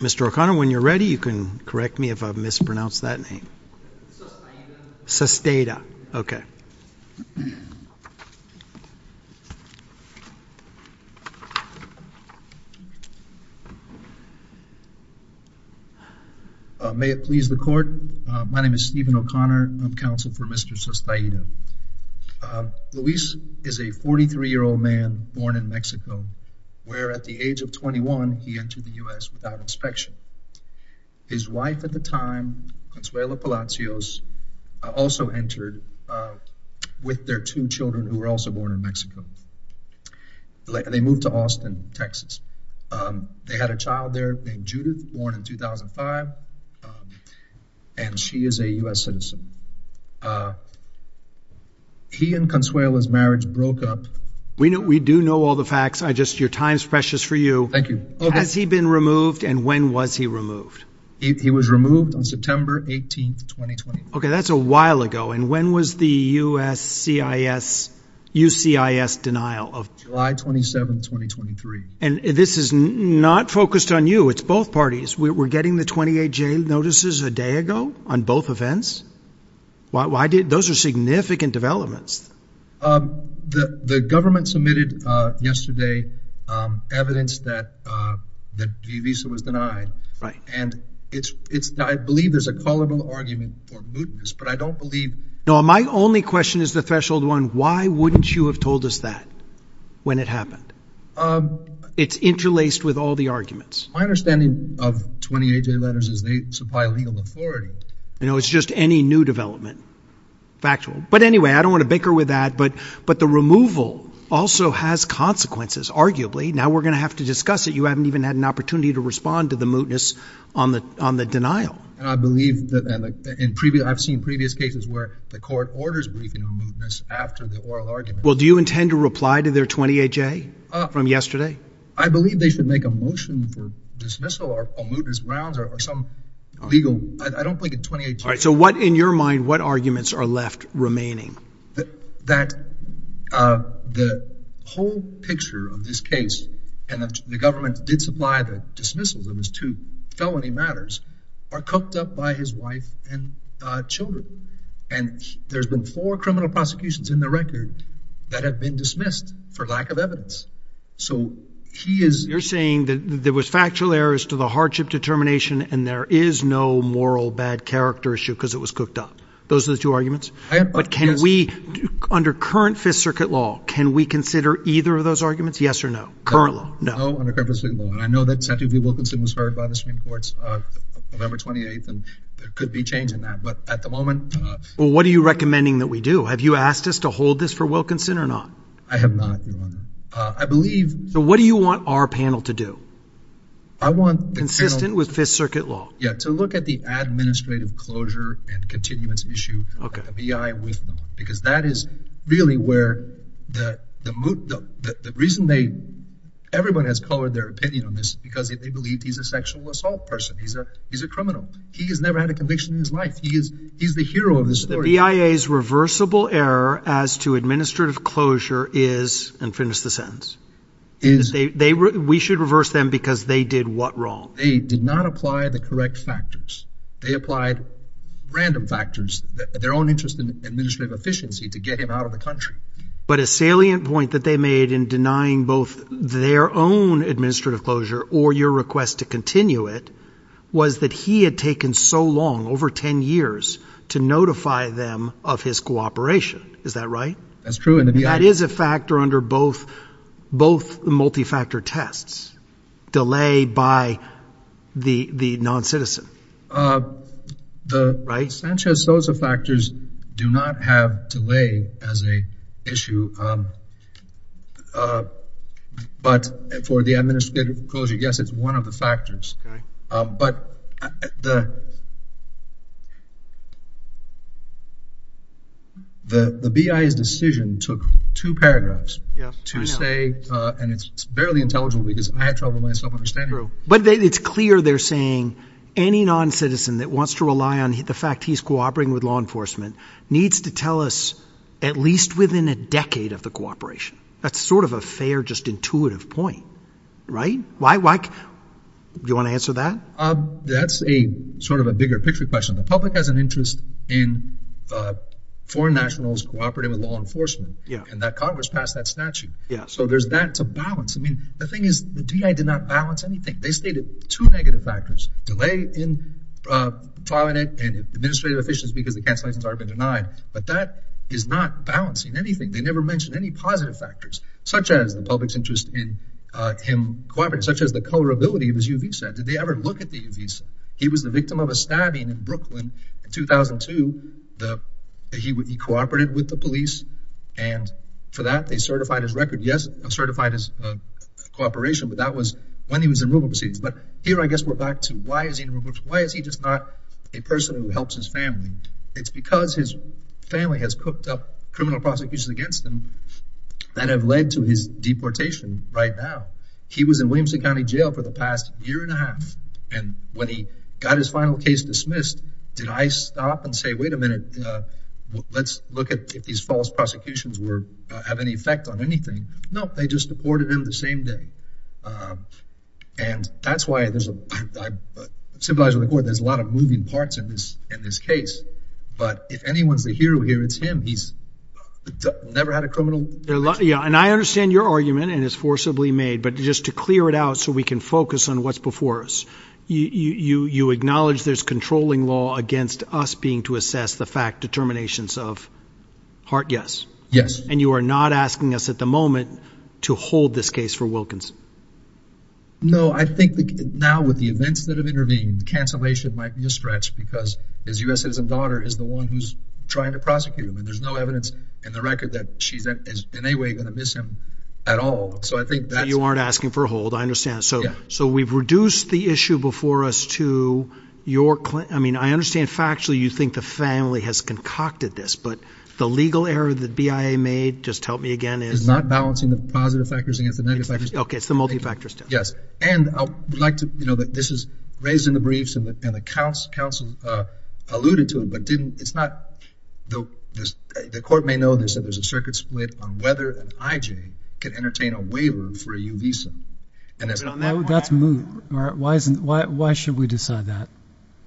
Mr. O'Connor when you're ready, you can correct me if I've mispronounced that name Sustaita, okay May it please the court. My name is Stephen O'Connor. I'm counsel for Mr. Sustaita Luis is a 43 year old man born in Mexico Where at the age of 21 he entered the US without inspection his wife at the time Consuelo Palacios also entered With their two children who were also born in Mexico Later, they moved to Austin, Texas They had a child there named Judith born in 2005 and She is a US citizen He and Consuelo's marriage broke up. We know we do know all the facts. I just your time's precious for you Thank you. Has he been removed? And when was he removed? He was removed on September 18th Okay, that's a while ago. And when was the u.s. CIS? UCIS denial of July 27 2023 and this is not focused on you. It's both parties We're getting the 28 jailed notices a day ago on both events Why did those are significant developments? The the government submitted yesterday evidence that The visa was denied right and it's it's I believe there's a callable argument But I don't believe no. My only question is the threshold one. Why wouldn't you have told us that when it happened? It's interlaced with all the arguments my understanding of 28 day letters is they supply legal authority You know, it's just any new development Factual, but anyway, I don't want to bicker with that. But but the removal also has consequences Arguably now we're gonna have to discuss it You haven't even had an opportunity to respond to the mootness on the on the denial I believe that in previous I've seen previous cases where the court orders Well, do you intend to reply to their 28 J from yesterday I believe they should make a motion for All right, so what in your mind what arguments are left remaining that that the whole picture of this case and the government did supply the dismissals of his two felony matters are cooked up by his wife and children and There's been four criminal prosecutions in the record that have been dismissed for lack of evidence So he is you're saying that there was factual errors to the hardship determination and there is no moral bad character issue Because it was cooked up. Those are the two arguments, but can we under current Fifth Circuit law? Can we consider either of those arguments? Yes or no current law? No I know that said to be Wilkinson was heard by the Supreme Court's Number 28 and there could be change in that but at the moment What are you recommending that we do? Have you asked us to hold this for Wilkinson or not? I have not I believe so. What do you want our panel to do? I Want consistent with Fifth Circuit law? Yeah to look at the administrative closure and continuance issue okay, I with because that is really where the the mood that the reason they Everyone has colored their opinion on this because if they believe he's a sexual assault person, he's a he's a criminal He has never had a conviction in his life. He is he's the hero of the story Reversible error as to administrative closure is and finish the sentence Is they were we should reverse them because they did what wrong? They did not apply the correct factors. They applied Random factors their own interest in administrative efficiency to get him out of the country But a salient point that they made in denying both their own Administrative closure or your request to continue it was that he had taken so long over ten years To notify them of his cooperation. Is that right? That's true. And that is a factor under both both the multi-factor tests delayed by the the non-citizen The right Sanchez Sosa factors do not have to lay as a issue But for the administrative closure, yes, it's one of the factors but the The BIA's decision took two paragraphs to say and it's barely intelligible because I had trouble myself understand But it's clear They're saying any non-citizen that wants to rely on the fact he's cooperating with law enforcement Needs to tell us at least within a decade of the cooperation. That's sort of a fair just intuitive point Right, why like you want to answer that? That's a sort of a bigger picture question the public has an interest in Foreign nationals cooperating with law enforcement. Yeah, and that Congress passed that statute. Yeah, so there's that's a balance I mean, the thing is the DI did not balance anything. They stated two negative factors delay in Twilight and administrative efficiency because the cancellations are been denied but that is not balancing anything They never mentioned any positive factors such as the public's interest in Cooperation such as the colorability of his UV said did they ever look at these? he was the victim of a stabbing in Brooklyn in 2002 the he would be cooperated with the police and For that they certified his record. Yes certified his Cooperation, but that was when he was in removal proceedings, but here I guess we're back to why is he? Why is he just not a person who helps his family? It's because his family has cooked up criminal prosecutions against him That have led to his deportation right now He was in Williamson County Jail for the past year and a half and when he got his final case dismissed Did I stop and say wait a minute? Let's look at if these false prosecutions were have any effect on anything. No, they just deported him the same day and that's why there's a Civilized record. There's a lot of moving parts in this in this case. But if anyone's the hero here, it's him. He's Never had a criminal Yeah, and I understand your argument and it's forcibly made but just to clear it out so we can focus on what's before us You you acknowledge there's controlling law against us being to assess the fact determinations of Heart yes. Yes, and you are not asking us at the moment to hold this case for Wilkins No I think now with the events that have intervened Cancellation might be a stretch because his u.s. It is a daughter is the one who's trying to prosecute him and there's no evidence in the record that she's in any way gonna Miss him at all. So I think that you aren't asking for a hold. I understand So so we've reduced the issue before us to your claim I mean, I understand factually you think the family has concocted this but the legal error that BIA made just help me again It's not balancing the positive factors against the negative. Okay, it's the multi factors. Yes, and I'd like to you know This is raised in the briefs and the accounts counsel alluded to him but didn't it's not though this the court may know this that there's a circuit split on whether an IJ can entertain a waiver for a uvisa and that's not that's move. All right. Why isn't why should we decide that?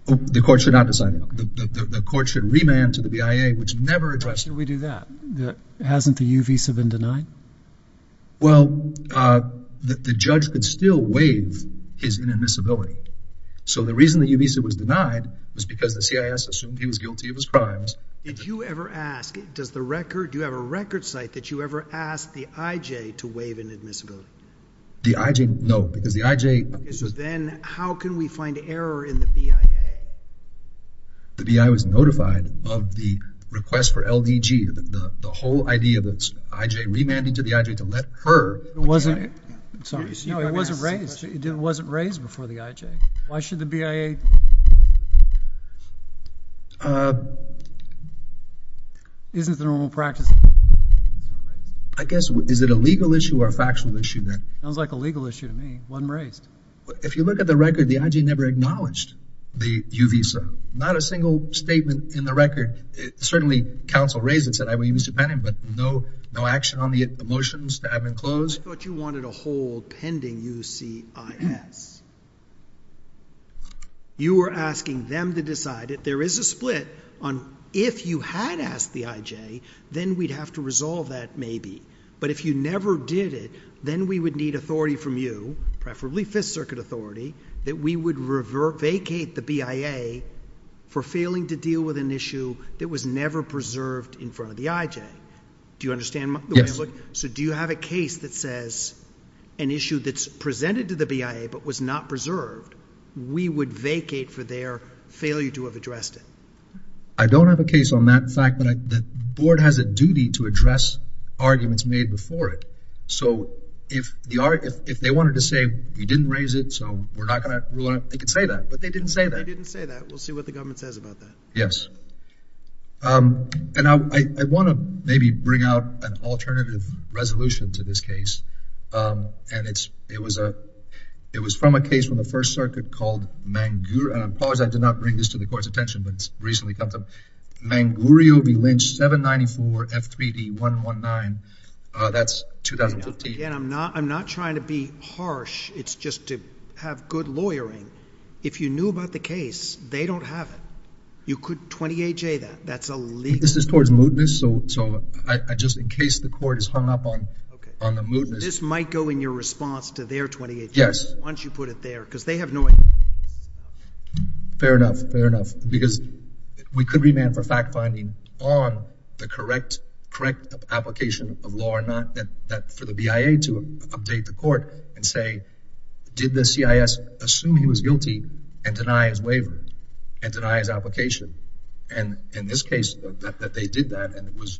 The court should not decide the court should remand to the BIA which never addressed. We do that Hasn't the uvisa been denied? well That the judge could still waive his inadmissibility So the reason that you visa was denied was because the CIS assumed he was guilty of his crimes Did you ever ask it does the record you have a record site that you ever asked the IJ to waive inadmissibility? The IJ no because the IJ is then how can we find error in the BIA? The BIA was notified of the request for LDG The whole idea that's IJ remanded to the IJ to let her it wasn't it No, it wasn't raised. It wasn't raised before the IJ. Why should the BIA? Isn't the normal practice I Guess is it a legal issue or a factual issue then sounds like a legal issue to me wasn't raised If you look at the record the IJ never acknowledged the uvisa not a single statement in the record Certainly counsel raises that I mean he was dependent but no no action on the motions to have been closed But you wanted a hold pending you see You were asking them to decide it there is a split on if you had asked the IJ Then we'd have to resolve that maybe but if you never did it then we would need authority from you Preferably Fifth Circuit authority that we would revert vacate the BIA For failing to deal with an issue that was never preserved in front of the IJ. Do you understand? Yes, so do you have a case that says an issue that's presented to the BIA, but was not preserved We would vacate for their failure to have addressed it I don't have a case on that fact that the board has a duty to address Arguments made before it so if the art if they wanted to say you didn't raise it We're not gonna Yes And now I want to maybe bring out an alternative resolution to this case and it's it was a It was from a case from the First Circuit called Mangu and I'm pause I did not bring this to the court's attention, but it's recently come to Mangurio be lynched 794 f3d 119 That's 2015. I'm not I'm not trying to be harsh It's just to have good lawyering if you knew about the case, they don't have it. You could 28 J that that's a leak This is towards mootness. So so I just in case the court is hung up on on the mootness This might go in your response to their 28. Yes, once you put it there because they have no Fair enough fair enough because we could remand for fact-finding on the correct correct Application of law or not that that for the BIA to update the court and say did the CIS assume he was guilty and deny his waiver and deny his application and in this case that they did that and it was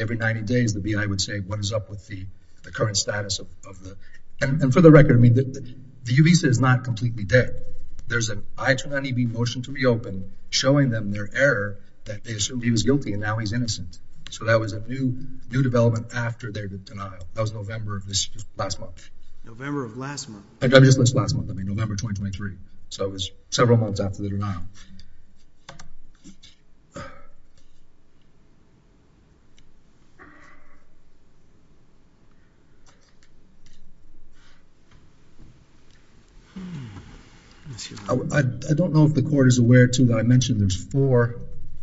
Every 90 days the BIA would say what is up with the the current status of the and for the record? I mean the visa is not completely dead There's an I turn any be motion to reopen showing them their error that they assumed he was guilty and now he's innocent So that was a new new development after their denial. That was November of this last month November of last month I got this last month. I mean November 2023. So it was several months after the denial I don't know if the court is aware to that. I mentioned there's four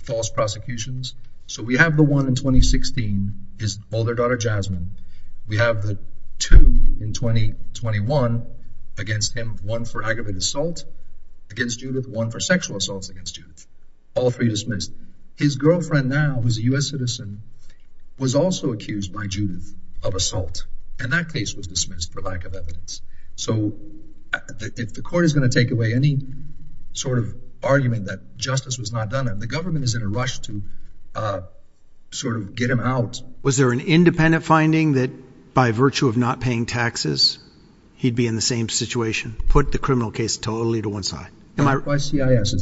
False prosecutions. So we have the one in 2016 is all their daughter Jasmine We have the two in 2021 Against him one for aggravated assault Against Judith one for sexual assaults against you all three dismissed his girlfriend now who's a u.s. Citizen Was also accused by Judith of assault and that case was dismissed for lack of evidence. So If the court is going to take away any sort of argument that justice was not done and the government is in a rush to Sort of get him out. Was there an independent finding that by virtue of not paying taxes? He'd be in the same situation put the criminal case totally to one side. Am I CIS?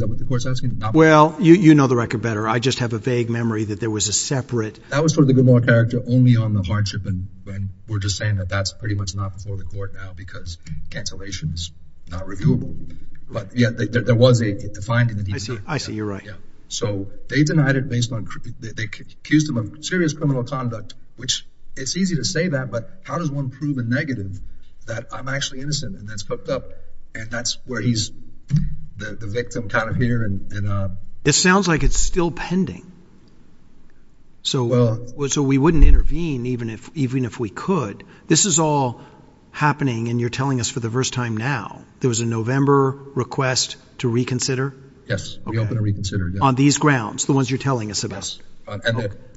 Well, you you know the record better I just have a vague memory that there was a separate that was for the good lord character only on the hardship and We're just saying that that's pretty much not before the court now because Cancellation is not reviewable. But yeah, there was a finding that I see you're right Yeah, so they denied it based on they accused him of serious criminal conduct, which it's easy to say that but how does one prove a negative that I'm actually innocent and that's hooked up and that's where he's the victim kind of here and It sounds like it's still pending So well, so we wouldn't intervene even if even if we could this is all Happening and you're telling us for the first time now, there was a November request to reconsider Yes, we open to reconsider on these grounds the ones you're telling us about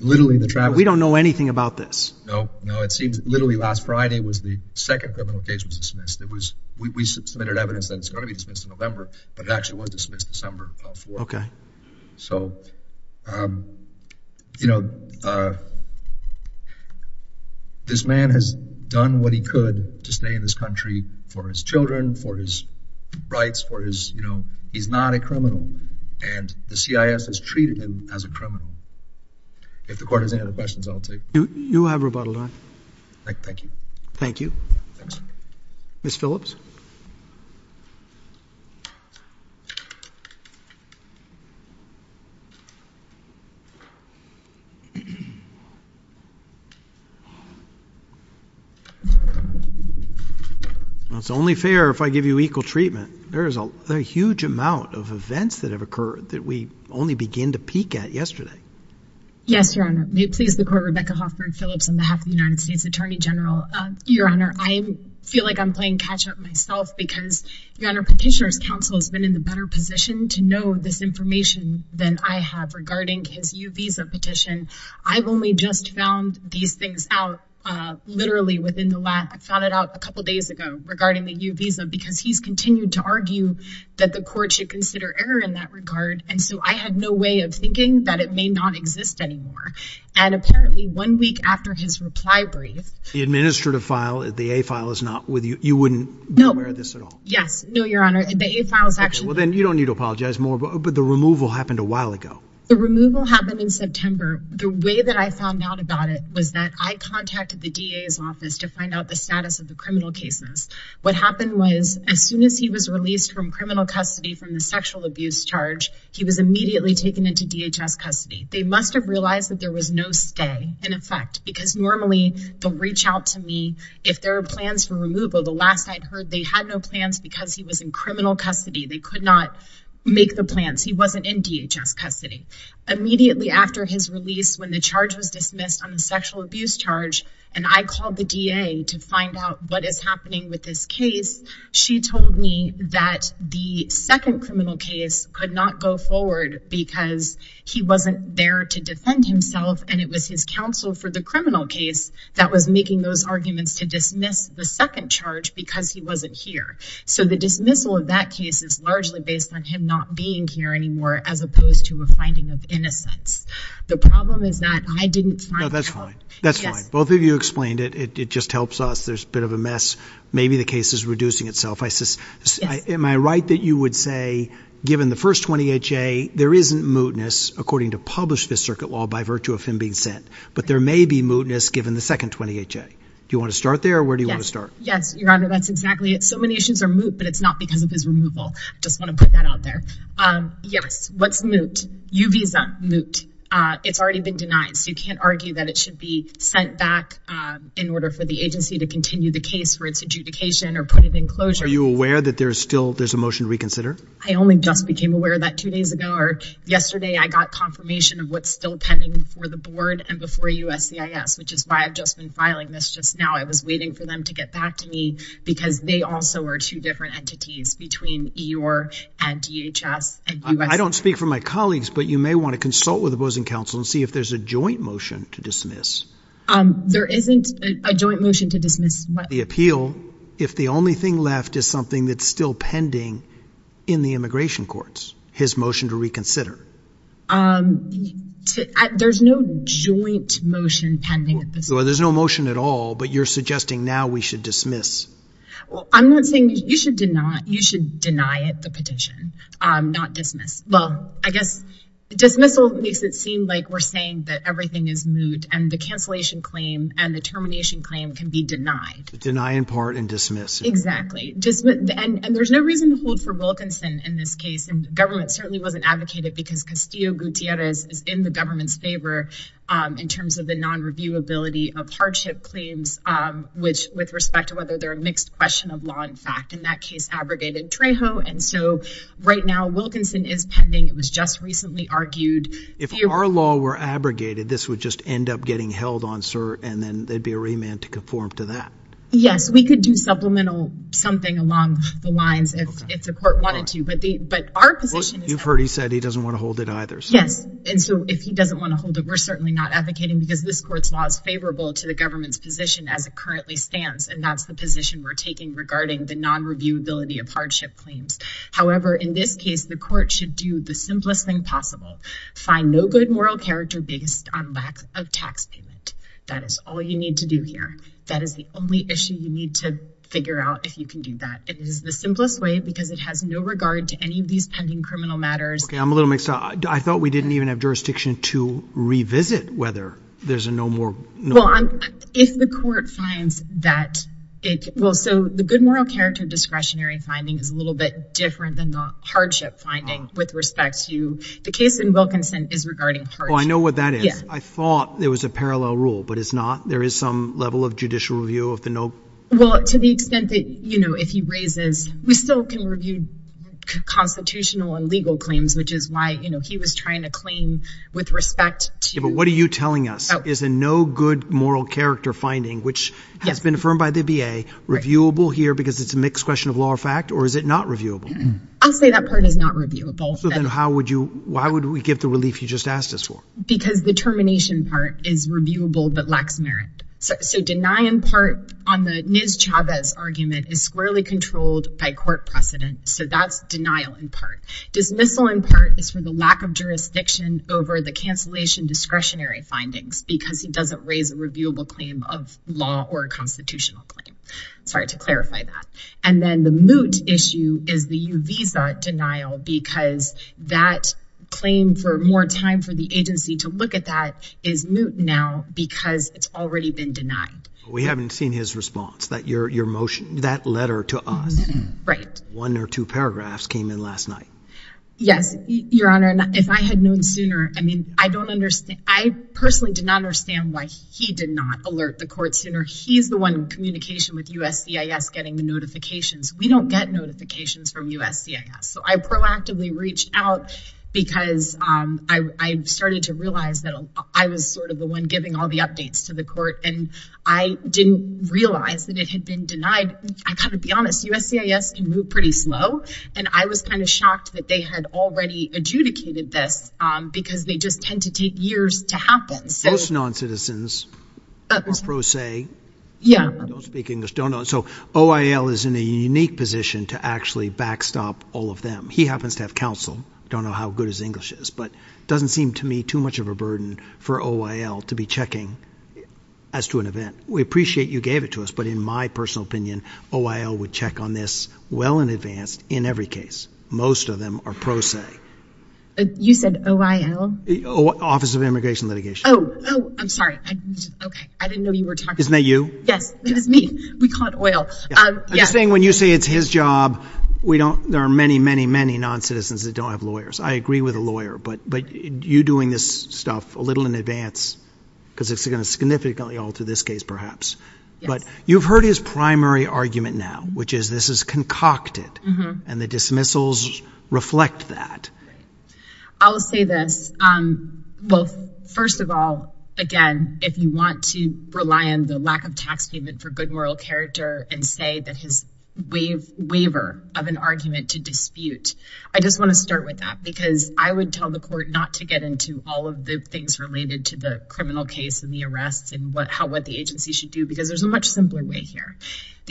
Literally the trap. We don't know anything about this. No. No, it seems literally last Friday was the second criminal case was dismissed It was we submitted evidence that it's going to be dismissed in November, but it actually was dismissed December. Okay, so You know This man has done what he could to stay in this country for his children for his Rights for his you know, he's not a criminal and the CIS has treated him as a criminal If the court has any other questions, I'll take you have rebuttal on Thank you. Thank you Miss Phillips It's Only fair if I give you equal treatment There is a huge amount of events that have occurred that we only begin to peek at yesterday Yes, your honor. May it please the court Rebecca Hoffman Phillips on behalf of the United States Attorney General your honor I feel like I'm playing catch-up myself because your honor petitioners counsel has been in the better position to know this information Than I have regarding his you visa petition. I've only just found these things out Literally within the last I found it out a couple days ago regarding the new visa because he's continued to argue That the court should consider error in that regard and so I had no way of thinking that it may not exist anymore and Apparently one week after his reply brief the administrative file at the a file is not with you. You wouldn't know where this at all Yes, no, your honor. The a file is actually then you don't need to apologize more But the removal happened a while ago the removal happened in September the way that I found out about it was that I Contacted the DA's office to find out the status of the criminal cases What happened was as soon as he was released from criminal custody from the sexual abuse charge He was immediately taken into DHS custody They must have realized that there was no stay in effect because normally They'll reach out to me if there are plans for removal the last I'd heard they had no plans because he was in criminal Custody they could not make the plans. He wasn't in DHS custody Immediately after his release when the charge was dismissed on the sexual abuse charge And I called the DA to find out what is happening with this case she told me that the second criminal case could not go forward because He wasn't there to defend himself And it was his counsel for the criminal case that was making those arguments to dismiss the second charge because he wasn't here So the dismissal of that case is largely based on him not being here anymore as opposed to a finding of innocence The problem is that I didn't know that's fine. That's fine. Both of you explained it. It just helps us There's a bit of a mess. Maybe the case is reducing itself I says am I right that you would say given the first 28 J There isn't mootness according to publish this circuit law by virtue of him being sent But there may be mootness given the second 28 J. Do you want to start there? Where do you want to start? Yes, your honor. That's exactly it. So many issues are moot, but it's not because of his removal. Just want to put that out there Yes, what's moot you visa moot? It's already been denied So you can't argue that it should be sent back In order for the agency to continue the case for its adjudication or put it in closure Are you aware that there's still there's a motion reconsider? I only just became aware of that two days ago or yesterday I got confirmation of what's still pending for the board and before USCIS, which is why I've just been filing this just now I was waiting for them to get back to me because they also are two different entities between your and DHS I don't speak for my colleagues But you may want to consult with opposing counsel and see if there's a joint motion to dismiss There isn't a joint motion to dismiss the appeal if the only thing left is something that's still pending in the immigration courts his motion to reconsider To there's no joint motion pending at this or there's no motion at all, but you're suggesting now we should dismiss I'm not saying you should did not you should deny it the petition. I'm not dismissed well I guess Dismissal makes it seem like we're saying that everything is moot and the cancellation claim and the termination claim can be denied deny in part and dismiss exactly just and there's no reason to hold for Wilkinson in this case and government certainly wasn't Advocated because Castillo Gutierrez is in the government's favor In terms of the non review ability of hardship claims Which with respect to whether they're a mixed question of law in fact in that case abrogated Trejo And so right now Wilkinson is pending. It was just recently argued if our law were abrogated This would just end up getting held on sir, and then they'd be a remand to conform to that Yes, we could do supplemental something along the lines if it's a court wanted to but the but our position You've heard he said he doesn't want to hold it either Yes and so if he doesn't want to hold it we're certainly not advocating because this court's laws favorable to the government's position as it Currently stands and that's the position we're taking regarding the non review ability of hardship claims However, in this case the court should do the simplest thing possible Find no good moral character based on lack of tax payment. That is all you need to do here That is the only issue you need to figure out if you can do that The simplest way because it has no regard to any of these pending criminal matters, okay I'm a little mixed up. I thought we didn't even have jurisdiction to revisit whether there's a no more No, I'm if the court finds that it will so the good moral character discretionary finding is a little bit different than the Hardship finding with respect to the case in Wilkinson is regarding. Oh, I know what that is I thought there was a parallel rule, but it's not there is some level of judicial review of the note Well to the extent that you know, if he raises we still can review Constitutional and legal claims which is why you know, he was trying to claim with respect to but what are you telling us? Is there no good moral character finding which has been affirmed by the BA? Reviewable here because it's a mixed question of law or fact or is it not reviewable? I'll say that part is not reviewable So then how would you why would we give the relief you just asked us for because the termination part is reviewable but lacks merit So deny in part on the NIS Chavez argument is squarely controlled by court precedent So that's denial in part dismissal in part is for the lack of jurisdiction over the cancellation Discretionary findings because he doesn't raise a reviewable claim of law or a constitutional claim Sorry to clarify that and then the moot issue is the visa denial because that Claim for more time for the agency to look at that is moot now because it's already been denied We haven't seen his response that your your motion that letter to us right one or two paragraphs came in last night Yes, your honor and if I had known sooner, I mean, I don't understand I personally did not understand why he did not alert the court sooner He's the one communication with USC is getting the notifications. We don't get notifications from USC So I proactively reached out because I started to realize that I was sort of the one giving all the updates to the court and I Didn't realize that it had been denied I kind of be honest USC is can move pretty slow and I was kind of shocked that they had already Adjudicated this because they just tend to take years to happen. So it's non-citizens Pro se. Yeah So OIL is in a unique position to actually backstop all of them He happens to have counsel don't know how good his English is But doesn't seem to me too much of a burden for OIL to be checking as to an event We appreciate you gave it to us But in my personal opinion OIL would check on this well in advance in every case. Most of them are pro se You said OIL? Office of immigration litigation. Oh, I'm sorry Isn't that you? Yes, it is me. We call it OIL. I'm saying when you say it's his job We don't there are many many many non-citizens that don't have lawyers I agree with a lawyer, but but you doing this stuff a little in advance Because it's gonna significantly alter this case perhaps But you've heard his primary argument now, which is this is concocted and the dismissals reflect that I'll say this Well, first of all again if you want to rely on the lack of tax payment for good moral character and say that his Waive waiver of an argument to dispute I just want to start with that because I would tell the court not to get into all of the things related to the Criminal case and the arrests and what how what the agency should do because there's a much simpler way here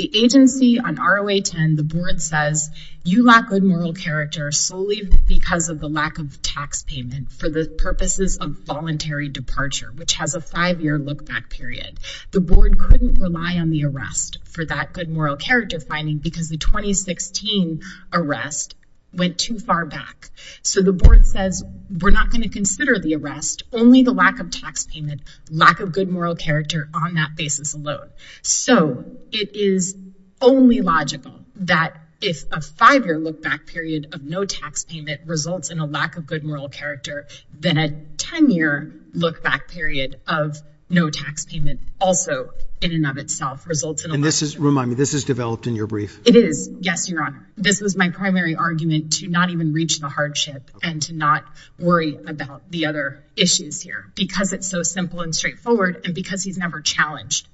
the agency on ROA 10 the board says you lack good moral character solely because of the lack of Taxpayment for the purposes of voluntary departure Which has a five-year look-back period the board couldn't rely on the arrest for that good moral character finding because the 2016 Arrest went too far back So the board says we're not going to consider the arrest only the lack of tax payment Lack of good moral character on that basis alone so it is Only logical that if a five-year look-back period of no tax payment results in a lack of good moral character Then a ten-year look-back period of no tax payment also in and of itself results in this is remind me This is developed in your brief. It is. Yes, your honor This was my primary argument to not even reach the hardship and to not worry about the other Issues here because it's so simple and straightforward and because he's never challenged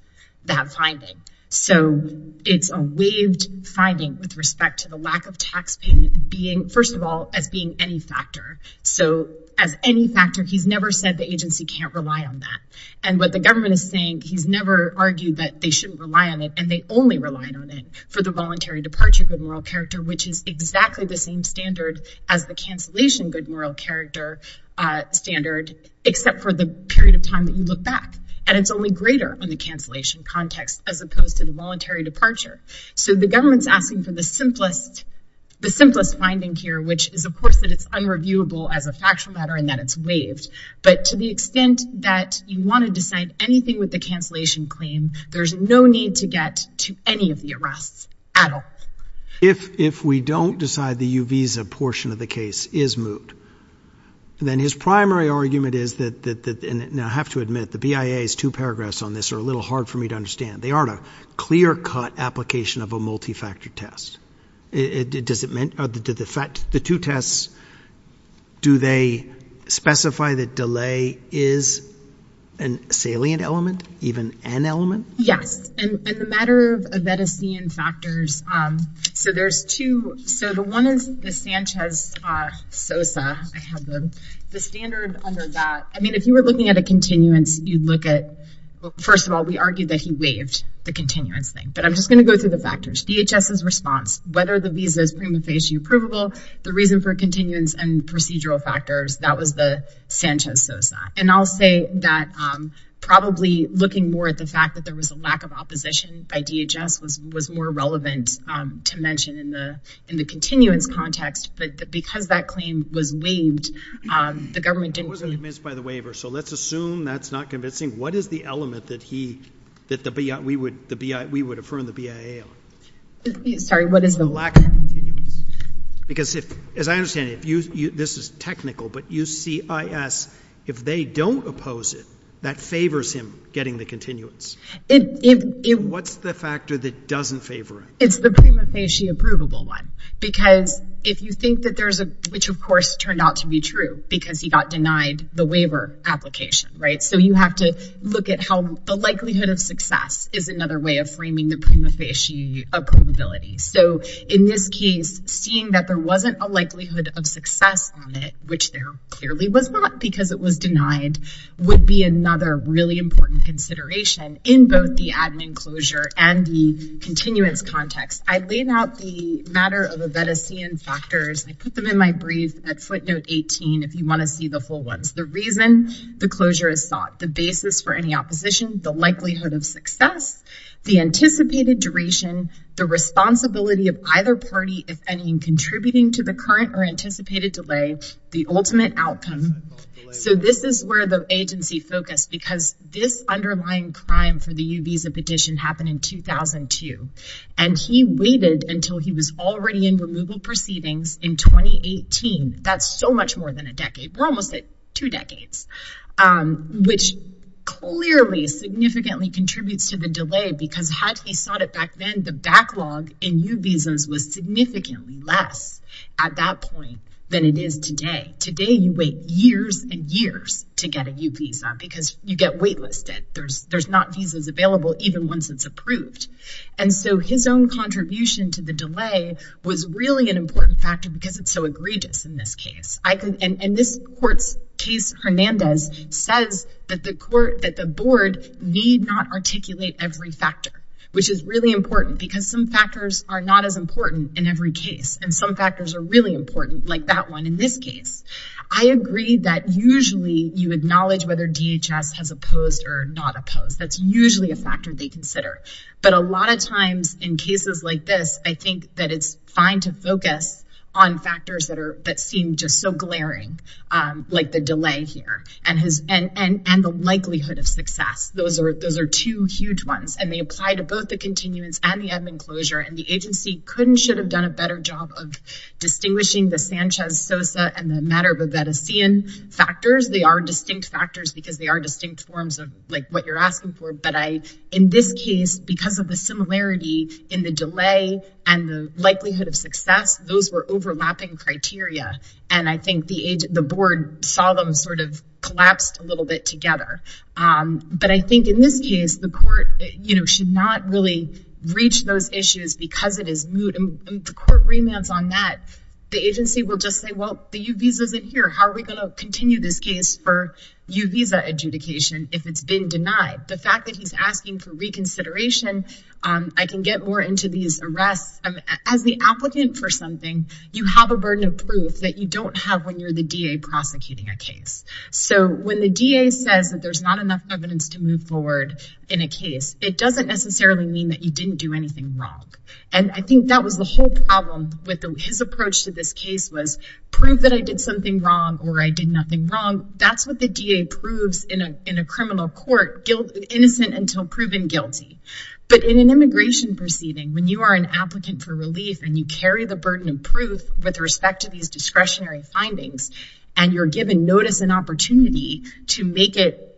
that finding So it's a waived Finding with respect to the lack of tax payment being first of all as being any factor So as any factor he's never said the agency can't rely on that and what the government is saying He's never argued that they shouldn't rely on it and they only relied on it for the voluntary departure good moral character Which is exactly the same standard as the cancellation good moral character Standard except for the period of time that you look back and it's only greater on the cancellation Context as opposed to the voluntary departure. So the government's asking for the simplest The simplest finding here, which is of course that it's unreviewable as a factual matter and that it's waived But to the extent that you want to decide anything with the cancellation claim There's no need to get to any of the arrests at all If if we don't decide the uvisa portion of the case is moot Then his primary argument is that that and I have to admit the BIA is to paragraphs on this or a little hard for me To understand they aren't a clear-cut application of a multi-factor test It does it meant other to the fact the two tests do they specify that delay is an Salient element even an element. Yes So there's two so the one is the Sanchez Sosa The standard under that. I mean if you were looking at a continuance you look at First of all, we argued that he waived the continuance thing But I'm just gonna go through the factors DHS is response whether the visa is prima facie approvable the reason for continuance and procedural factors that was the Sanchez Sosa and I'll say that Probably looking more at the fact that there was a lack of opposition by DHS was was more relevant To mention in the in the continuance context, but because that claim was waived The government didn't miss by the waiver. So let's assume that's not convincing What is the element that he that the BIA we would the BIA we would affirm the BIA? Sorry, what is the lack? Because if as I understand if you this is technical But you see is if they don't oppose it that favors him getting the continuance What's the factor that doesn't favor it It's the prima facie Approvable one because if you think that there's a which of course turned out to be true because he got denied the waiver Application, right? So you have to look at how the likelihood of success is another way of framing the prima facie Approvability. So in this case seeing that there wasn't a likelihood of success on it Which there clearly was not because it was denied would be another really important consideration In both the admin closure and the continuance context. I laid out the matter of a vedician factors I put them in my brief at footnote 18 If you want to see the full ones the reason the closure is sought the basis for any opposition the likelihood of success the anticipated duration the Responsibility of either party if any in contributing to the current or anticipated delay the ultimate outcome So this is where the agency focused because this underlying crime for the uvisa petition happened in 2002 and He waited until he was already in removal proceedings in 2018. That's so much more than a decade. We're almost at two decades which Clearly significantly contributes to the delay because had he sought it back then the backlog in you visas was Today today you wait years and years to get a new visa because you get waitlisted There's there's not visas available Even once it's approved and so his own contribution to the delay Was really an important factor because it's so egregious in this case I could and this court's case Hernandez says that the court that the board need not articulate every factor Which is really important because some factors are not as important in every case and some factors are really important like that one in this Case, I agree that usually you acknowledge whether DHS has opposed or not opposed That's usually a factor they consider but a lot of times in cases like this I think that it's fine to focus on factors that are that seem just so glaring Like the delay here and his and and and the likelihood of success Those are those are two huge ones and they apply to both the continuance and the admin closure and the agency couldn't should have done a better job of Distinguishing the Sanchez Sosa and the matter of a vatican Factors they are distinct factors because they are distinct forms of like what you're asking for But I in this case because of the similarity in the delay and the likelihood of success those were overlapping Criteria and I think the age the board saw them sort of collapsed a little bit together But I think in this case the court, you know Should not really reach those issues because it is Remands on that the agency will just say well the you visas in here How are we going to continue this case for you visa adjudication if it's been denied the fact that he's asking for reconsideration I can get more into these arrests as the applicant for something You have a burden of proof that you don't have when you're the DA prosecuting a case So when the DA says that there's not enough evidence to move forward in a case It doesn't necessarily mean that you didn't do anything wrong And I think that was the whole problem with his approach to this case was prove that I did something wrong or I did nothing Wrong, that's what the DA proves in a in a criminal court guilt innocent until proven guilty But in an immigration proceeding when you are an applicant for relief and you carry the burden of proof with respect to these discretionary findings and you're given notice an opportunity to make it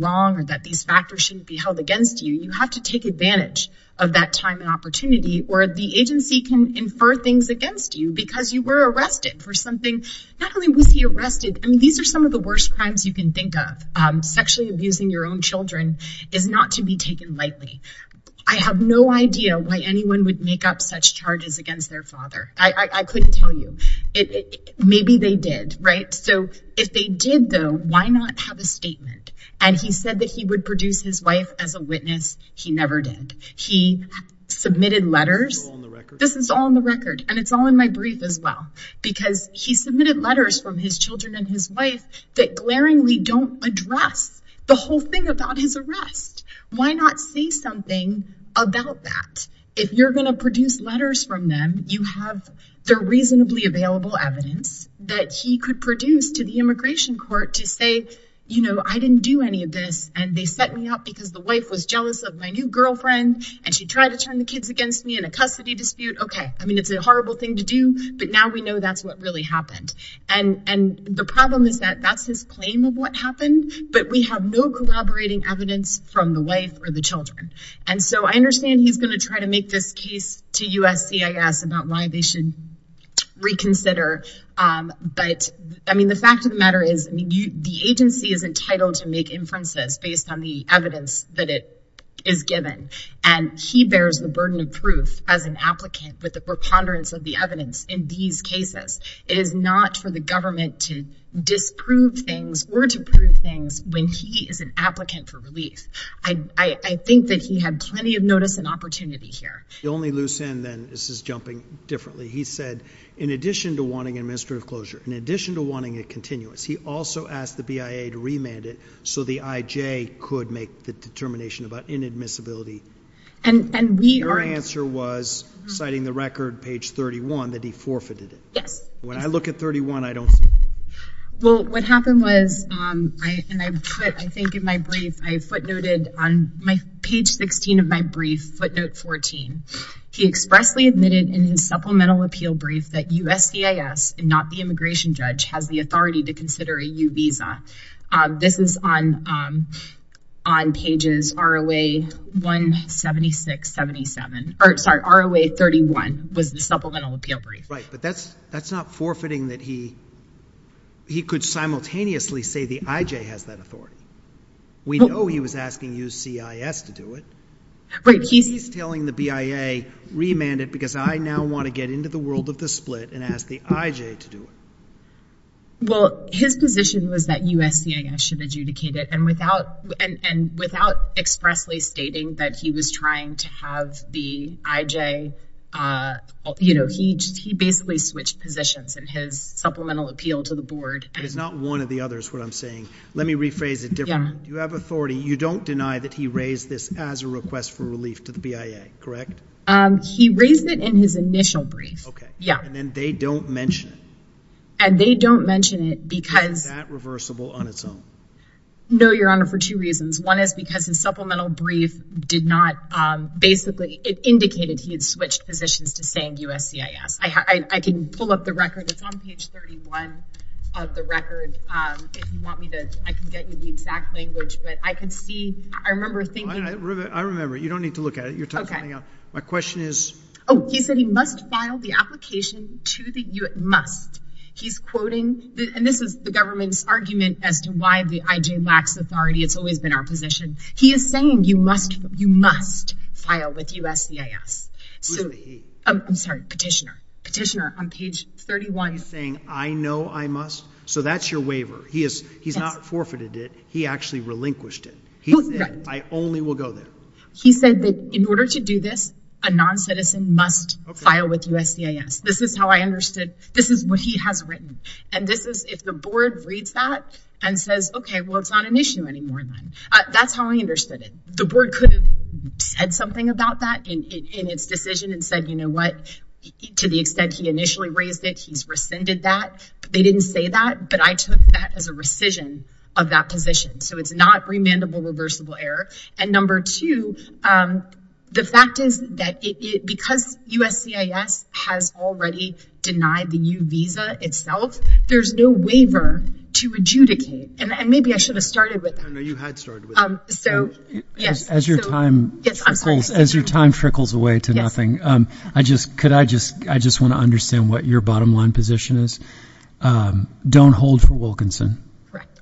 Wrong that these factors shouldn't be held against you You have to take advantage of that time and opportunity or the agency can infer things against you because you were arrested for something Not only was he arrested. I mean, these are some of the worst crimes you can think of Sexually abusing your own children is not to be taken lightly I have no idea why anyone would make up such charges against their father. I couldn't tell you it Maybe they did right? So if they did though, why not have a statement and he said that he would produce his wife as a witness. He never did he Submitted letters. This is all in the record and it's all in my brief as well Because he submitted letters from his children and his wife that glaringly don't address the whole thing about his arrest Why not see something about that if you're gonna produce letters from them They're reasonably available evidence that he could produce to the Immigration Court to say, you know I didn't do any of this and they set me up because the wife was jealous of my new girlfriend And she tried to turn the kids against me in a custody dispute Okay I mean it's a horrible thing to do but now we know that's what really happened and and The problem is that that's his claim of what happened But we have no collaborating evidence from the wife or the children And so I understand he's going to try to make this case to USC. I guess about why they should reconsider but I mean the fact of the matter is you the agency is entitled to make inferences based on the evidence that it is given and he bears the burden of proof as an applicant with the preponderance of the evidence in these cases is not for the government to Disprove things or to prove things when he is an applicant for relief I I think that he had plenty of notice and opportunity here. The only loose end then this is jumping differently He said in addition to wanting administrative closure in addition to wanting it continuous He also asked the BIA to remand it so the IJ could make the determination about inadmissibility And and we are answer was citing the record page 31 that he forfeited it. Yes when I look at 31, I don't Well what happened was And I put I think in my brief I footnoted on my page 16 of my brief footnote 14 He expressly admitted in his supplemental appeal brief that USCIS and not the immigration judge has the authority to consider a u-visa This is on on pages ROA 176 77 or sorry ROA 31 was the supplemental appeal brief, right? He could simultaneously say the IJ has that authority we know he was asking you CIS to do it Right. He's telling the BIA Remanded because I now want to get into the world of the split and ask the IJ to do it well, his position was that USCIS should adjudicate it and without and and without Expressly stating that he was trying to have the IJ You know, he he basically switched positions and his supplemental appeal to the board It is not one of the others what I'm saying. Let me rephrase it. Yeah, you have authority You don't deny that he raised this as a request for relief to the BIA, correct? Um, he raised it in his initial brief. Okay. Yeah, and then they don't mention it and they don't mention it because reversible on its own No, your honor for two reasons. One is because his supplemental brief did not Basically it indicated he had switched positions to saying USCIS. I can pull up the record It's on page 31 of the record But I can see I remember thinking I remember you don't need to look at it you're talking about my question is Oh, he said he must file the application to the you must he's quoting And this is the government's argument as to why the IJ lacks authority. It's always been our position He is saying you must you must file with USCIS I'm sorry petitioner petitioner on page 31 saying I know I must so that's your waiver He is he's not forfeited it. He actually relinquished it. I only will go there He said that in order to do this a non-citizen must file with USCIS This is how I understood this is what he has written and this is if the board reads that and says, okay Well, it's not an issue anymore. That's how I understood it The board could have said something about that in its decision and said, you know what? To the extent he initially raised it. He's rescinded that they didn't say that but I took that as a rescission of that position So it's not remandable reversible error and number two The fact is that it because USCIS has already denied the new visa itself There's no waiver to adjudicate and maybe I should have started with As your time trickles away to nothing I just could I just I just want to understand what your bottom line position is Don't hold for Wilkinson.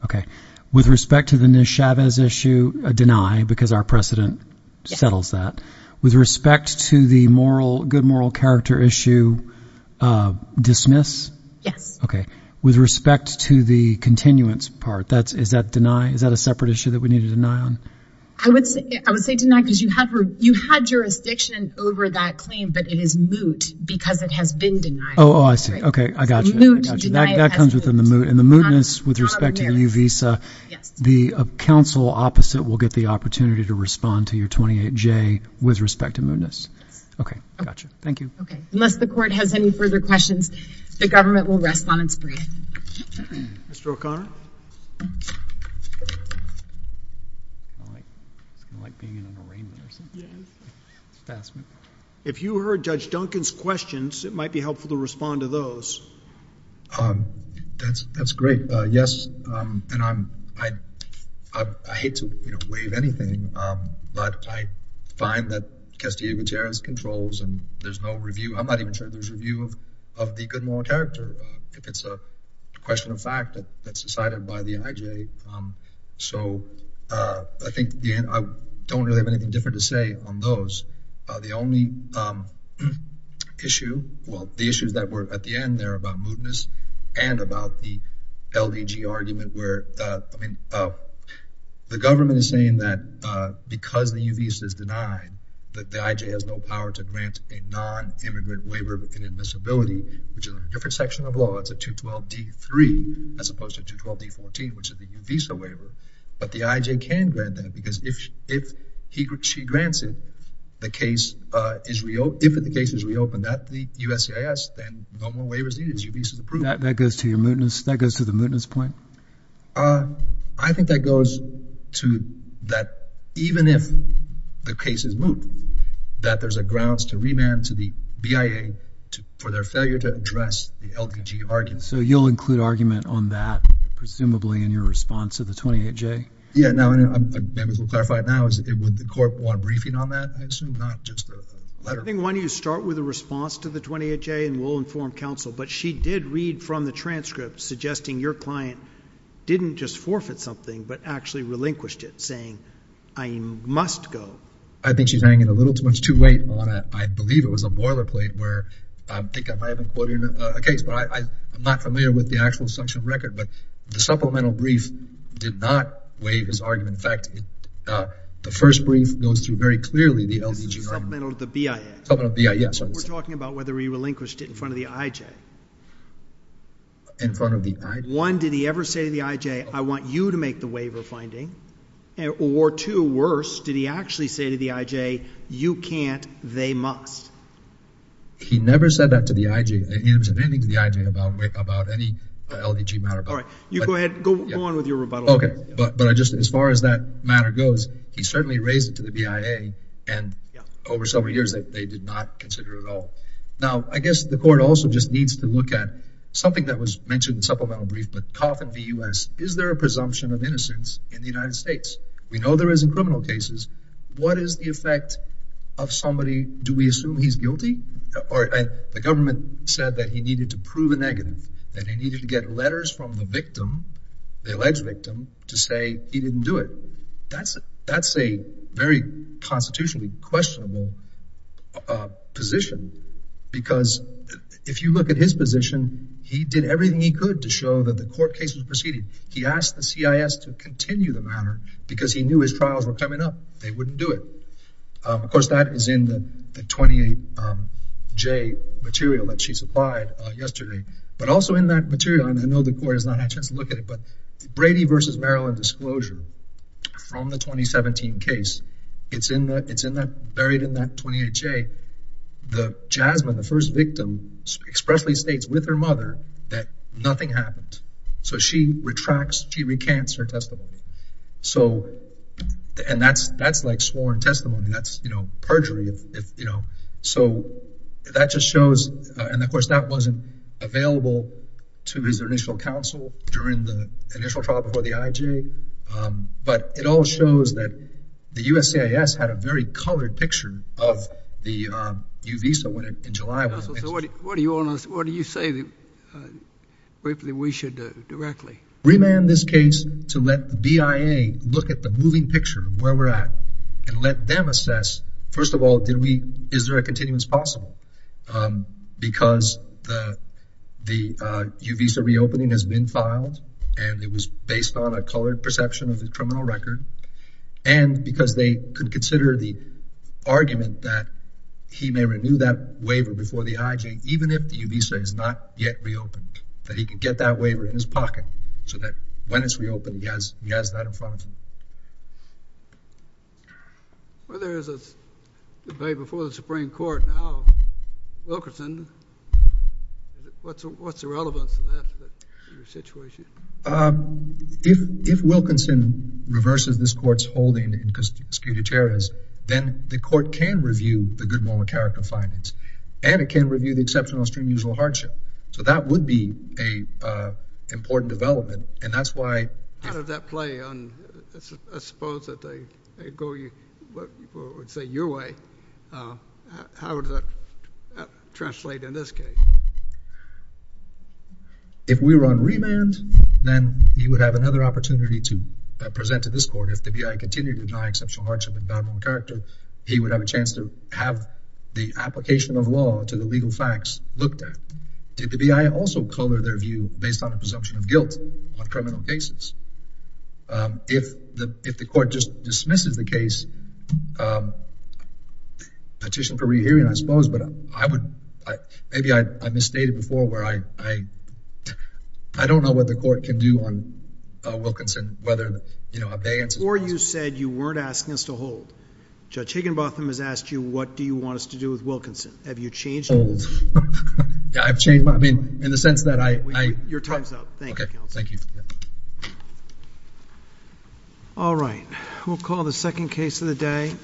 Okay with respect to the new Chavez issue a deny because our precedent Settles that with respect to the moral good moral character issue Dismiss yes. Okay with respect to the continuance part. That's is that deny? Is that a separate issue that we need to deny on? I would say I would say to not because you have you had jurisdiction over that claim But it is moot because it has been denied. Oh, okay. I got you That comes within the mood and the mootness with respect to the new visa The council opposite will get the opportunity to respond to your 28 J with respect to mootness. Okay. Thank you Unless the court has any further questions, the government will rest on its breath If you heard judge Duncan's questions, it might be helpful to respond to those That's that's great. Yes, and I'm I I'm not even sure there's a view of the good moral character if it's a question of fact that that's decided by the IJ so I think Don't really have anything different to say on those the only Issue well the issues that were at the end there about mootness and about the LDG argument where I mean The government is saying that because the UVS is denied that the IJ has no power to grant a non Immigrant waiver within admissibility, which is a different section of law It's a 212 d3 as opposed to 212 d14, which is the visa waiver But the IJ can grant that because if if he could she grants it The case is real if the case is reopened at the USCIS then no more waivers It is you piece of the proof that that goes to your mootness that goes to the mootness point I think that goes to that even if the case is moot That there's a grounds to remand to the BIA to for their failure to address the LDG argument So you'll include argument on that? Presumably in your response to the 28 J. Yeah. No, I'm Clarified now is it would the court want briefing on that? I assume not just letting one you start with a response to the 28 J and will inform counsel But she did read from the transcript suggesting your client Didn't just forfeit something but actually relinquished it saying I must go I think she's hanging a little too much to wait on it. I believe it was a boilerplate where Okay, I'm not familiar with the actual section record but the supplemental brief did not waive his argument in fact The first brief goes through very clearly the LDG Supplemental to the BIA. Yes. We're talking about whether he relinquished it in front of the IJ In front of the IJ. One, did he ever say to the IJ? I want you to make the waiver finding and or two worse. Did he actually say to the IJ you can't they must He never said that to the IJ You go ahead But but I just as far as that matter goes he certainly raised it to the BIA and Over several years that they did not consider at all Now, I guess the court also just needs to look at something that was mentioned in supplemental brief But Coffin V US, is there a presumption of innocence in the United States? We know there isn't criminal cases What is the effect of somebody do we assume he's guilty or the government said that he needed to prove a negative? That he needed to get letters from the victim the alleged victim to say he didn't do it That's it. That's a very constitutionally questionable Position because if you look at his position He did everything he could to show that the court cases proceeded He asked the CIS to continue the matter because he knew his trials were coming up. They wouldn't do it of course that is in the 28j material that she supplied yesterday, but also in that material and I know the court has not had a chance to look at it But Brady versus Maryland disclosure From the 2017 case. It's in that it's in that buried in that 28j The Jasmine the first victim Expressly states with her mother that nothing happened. So she retracts. She recants her testimony. So And that's that's like sworn testimony. That's you know perjury if you know, so That just shows and of course that wasn't available to his initial counsel during the initial trial before the IJ But it all shows that the USCIS had a very colored picture of the Uvisa when it in July. So what do you want us? What do you say that? Briefly we should directly remand this case to let the BIA Look at the moving picture where we're at and let them assess first of all, did we is there a continuance possible? because the Uvisa reopening has been filed and it was based on a colored perception of the criminal record and because they could consider the argument that He may renew that waiver before the IJ even if the Uvisa is not yet reopened that he could get that waiver in his pocket So that when it's reopened he has he has that in front of him Well, there is a debate before the Supreme Court now Wilkerson What's what's the relevance If Wilkerson reverses this court's holding in Cuscuta-Cherez then the court can review the goodwill and character findings and it can review the exceptional extreme usual hardship so that would be a Important development and that's why how did that play on? Suppose that they go you would say your way How does that? Translate in this case If we were on remand Then you would have another opportunity to present to this court if the BIA continued to deny exceptional hardship and bad moral character He would have a chance to have the application of law to the legal facts looked at Did the BIA also color their view based on a presumption of guilt on criminal cases? If the if the court just dismisses the case I Petition for rehearing I suppose but I would maybe I misstated before where I I I Don't know what the court can do on Wilkinson whether you know a bans or you said you weren't asking us to hold Judge Higginbotham has asked you. What do you want us to do with Wilkinson? Have you changed old? Yeah, I've changed my mean in the sense that I your time's up. Thank you. Thank you All right, we'll call the second case of the day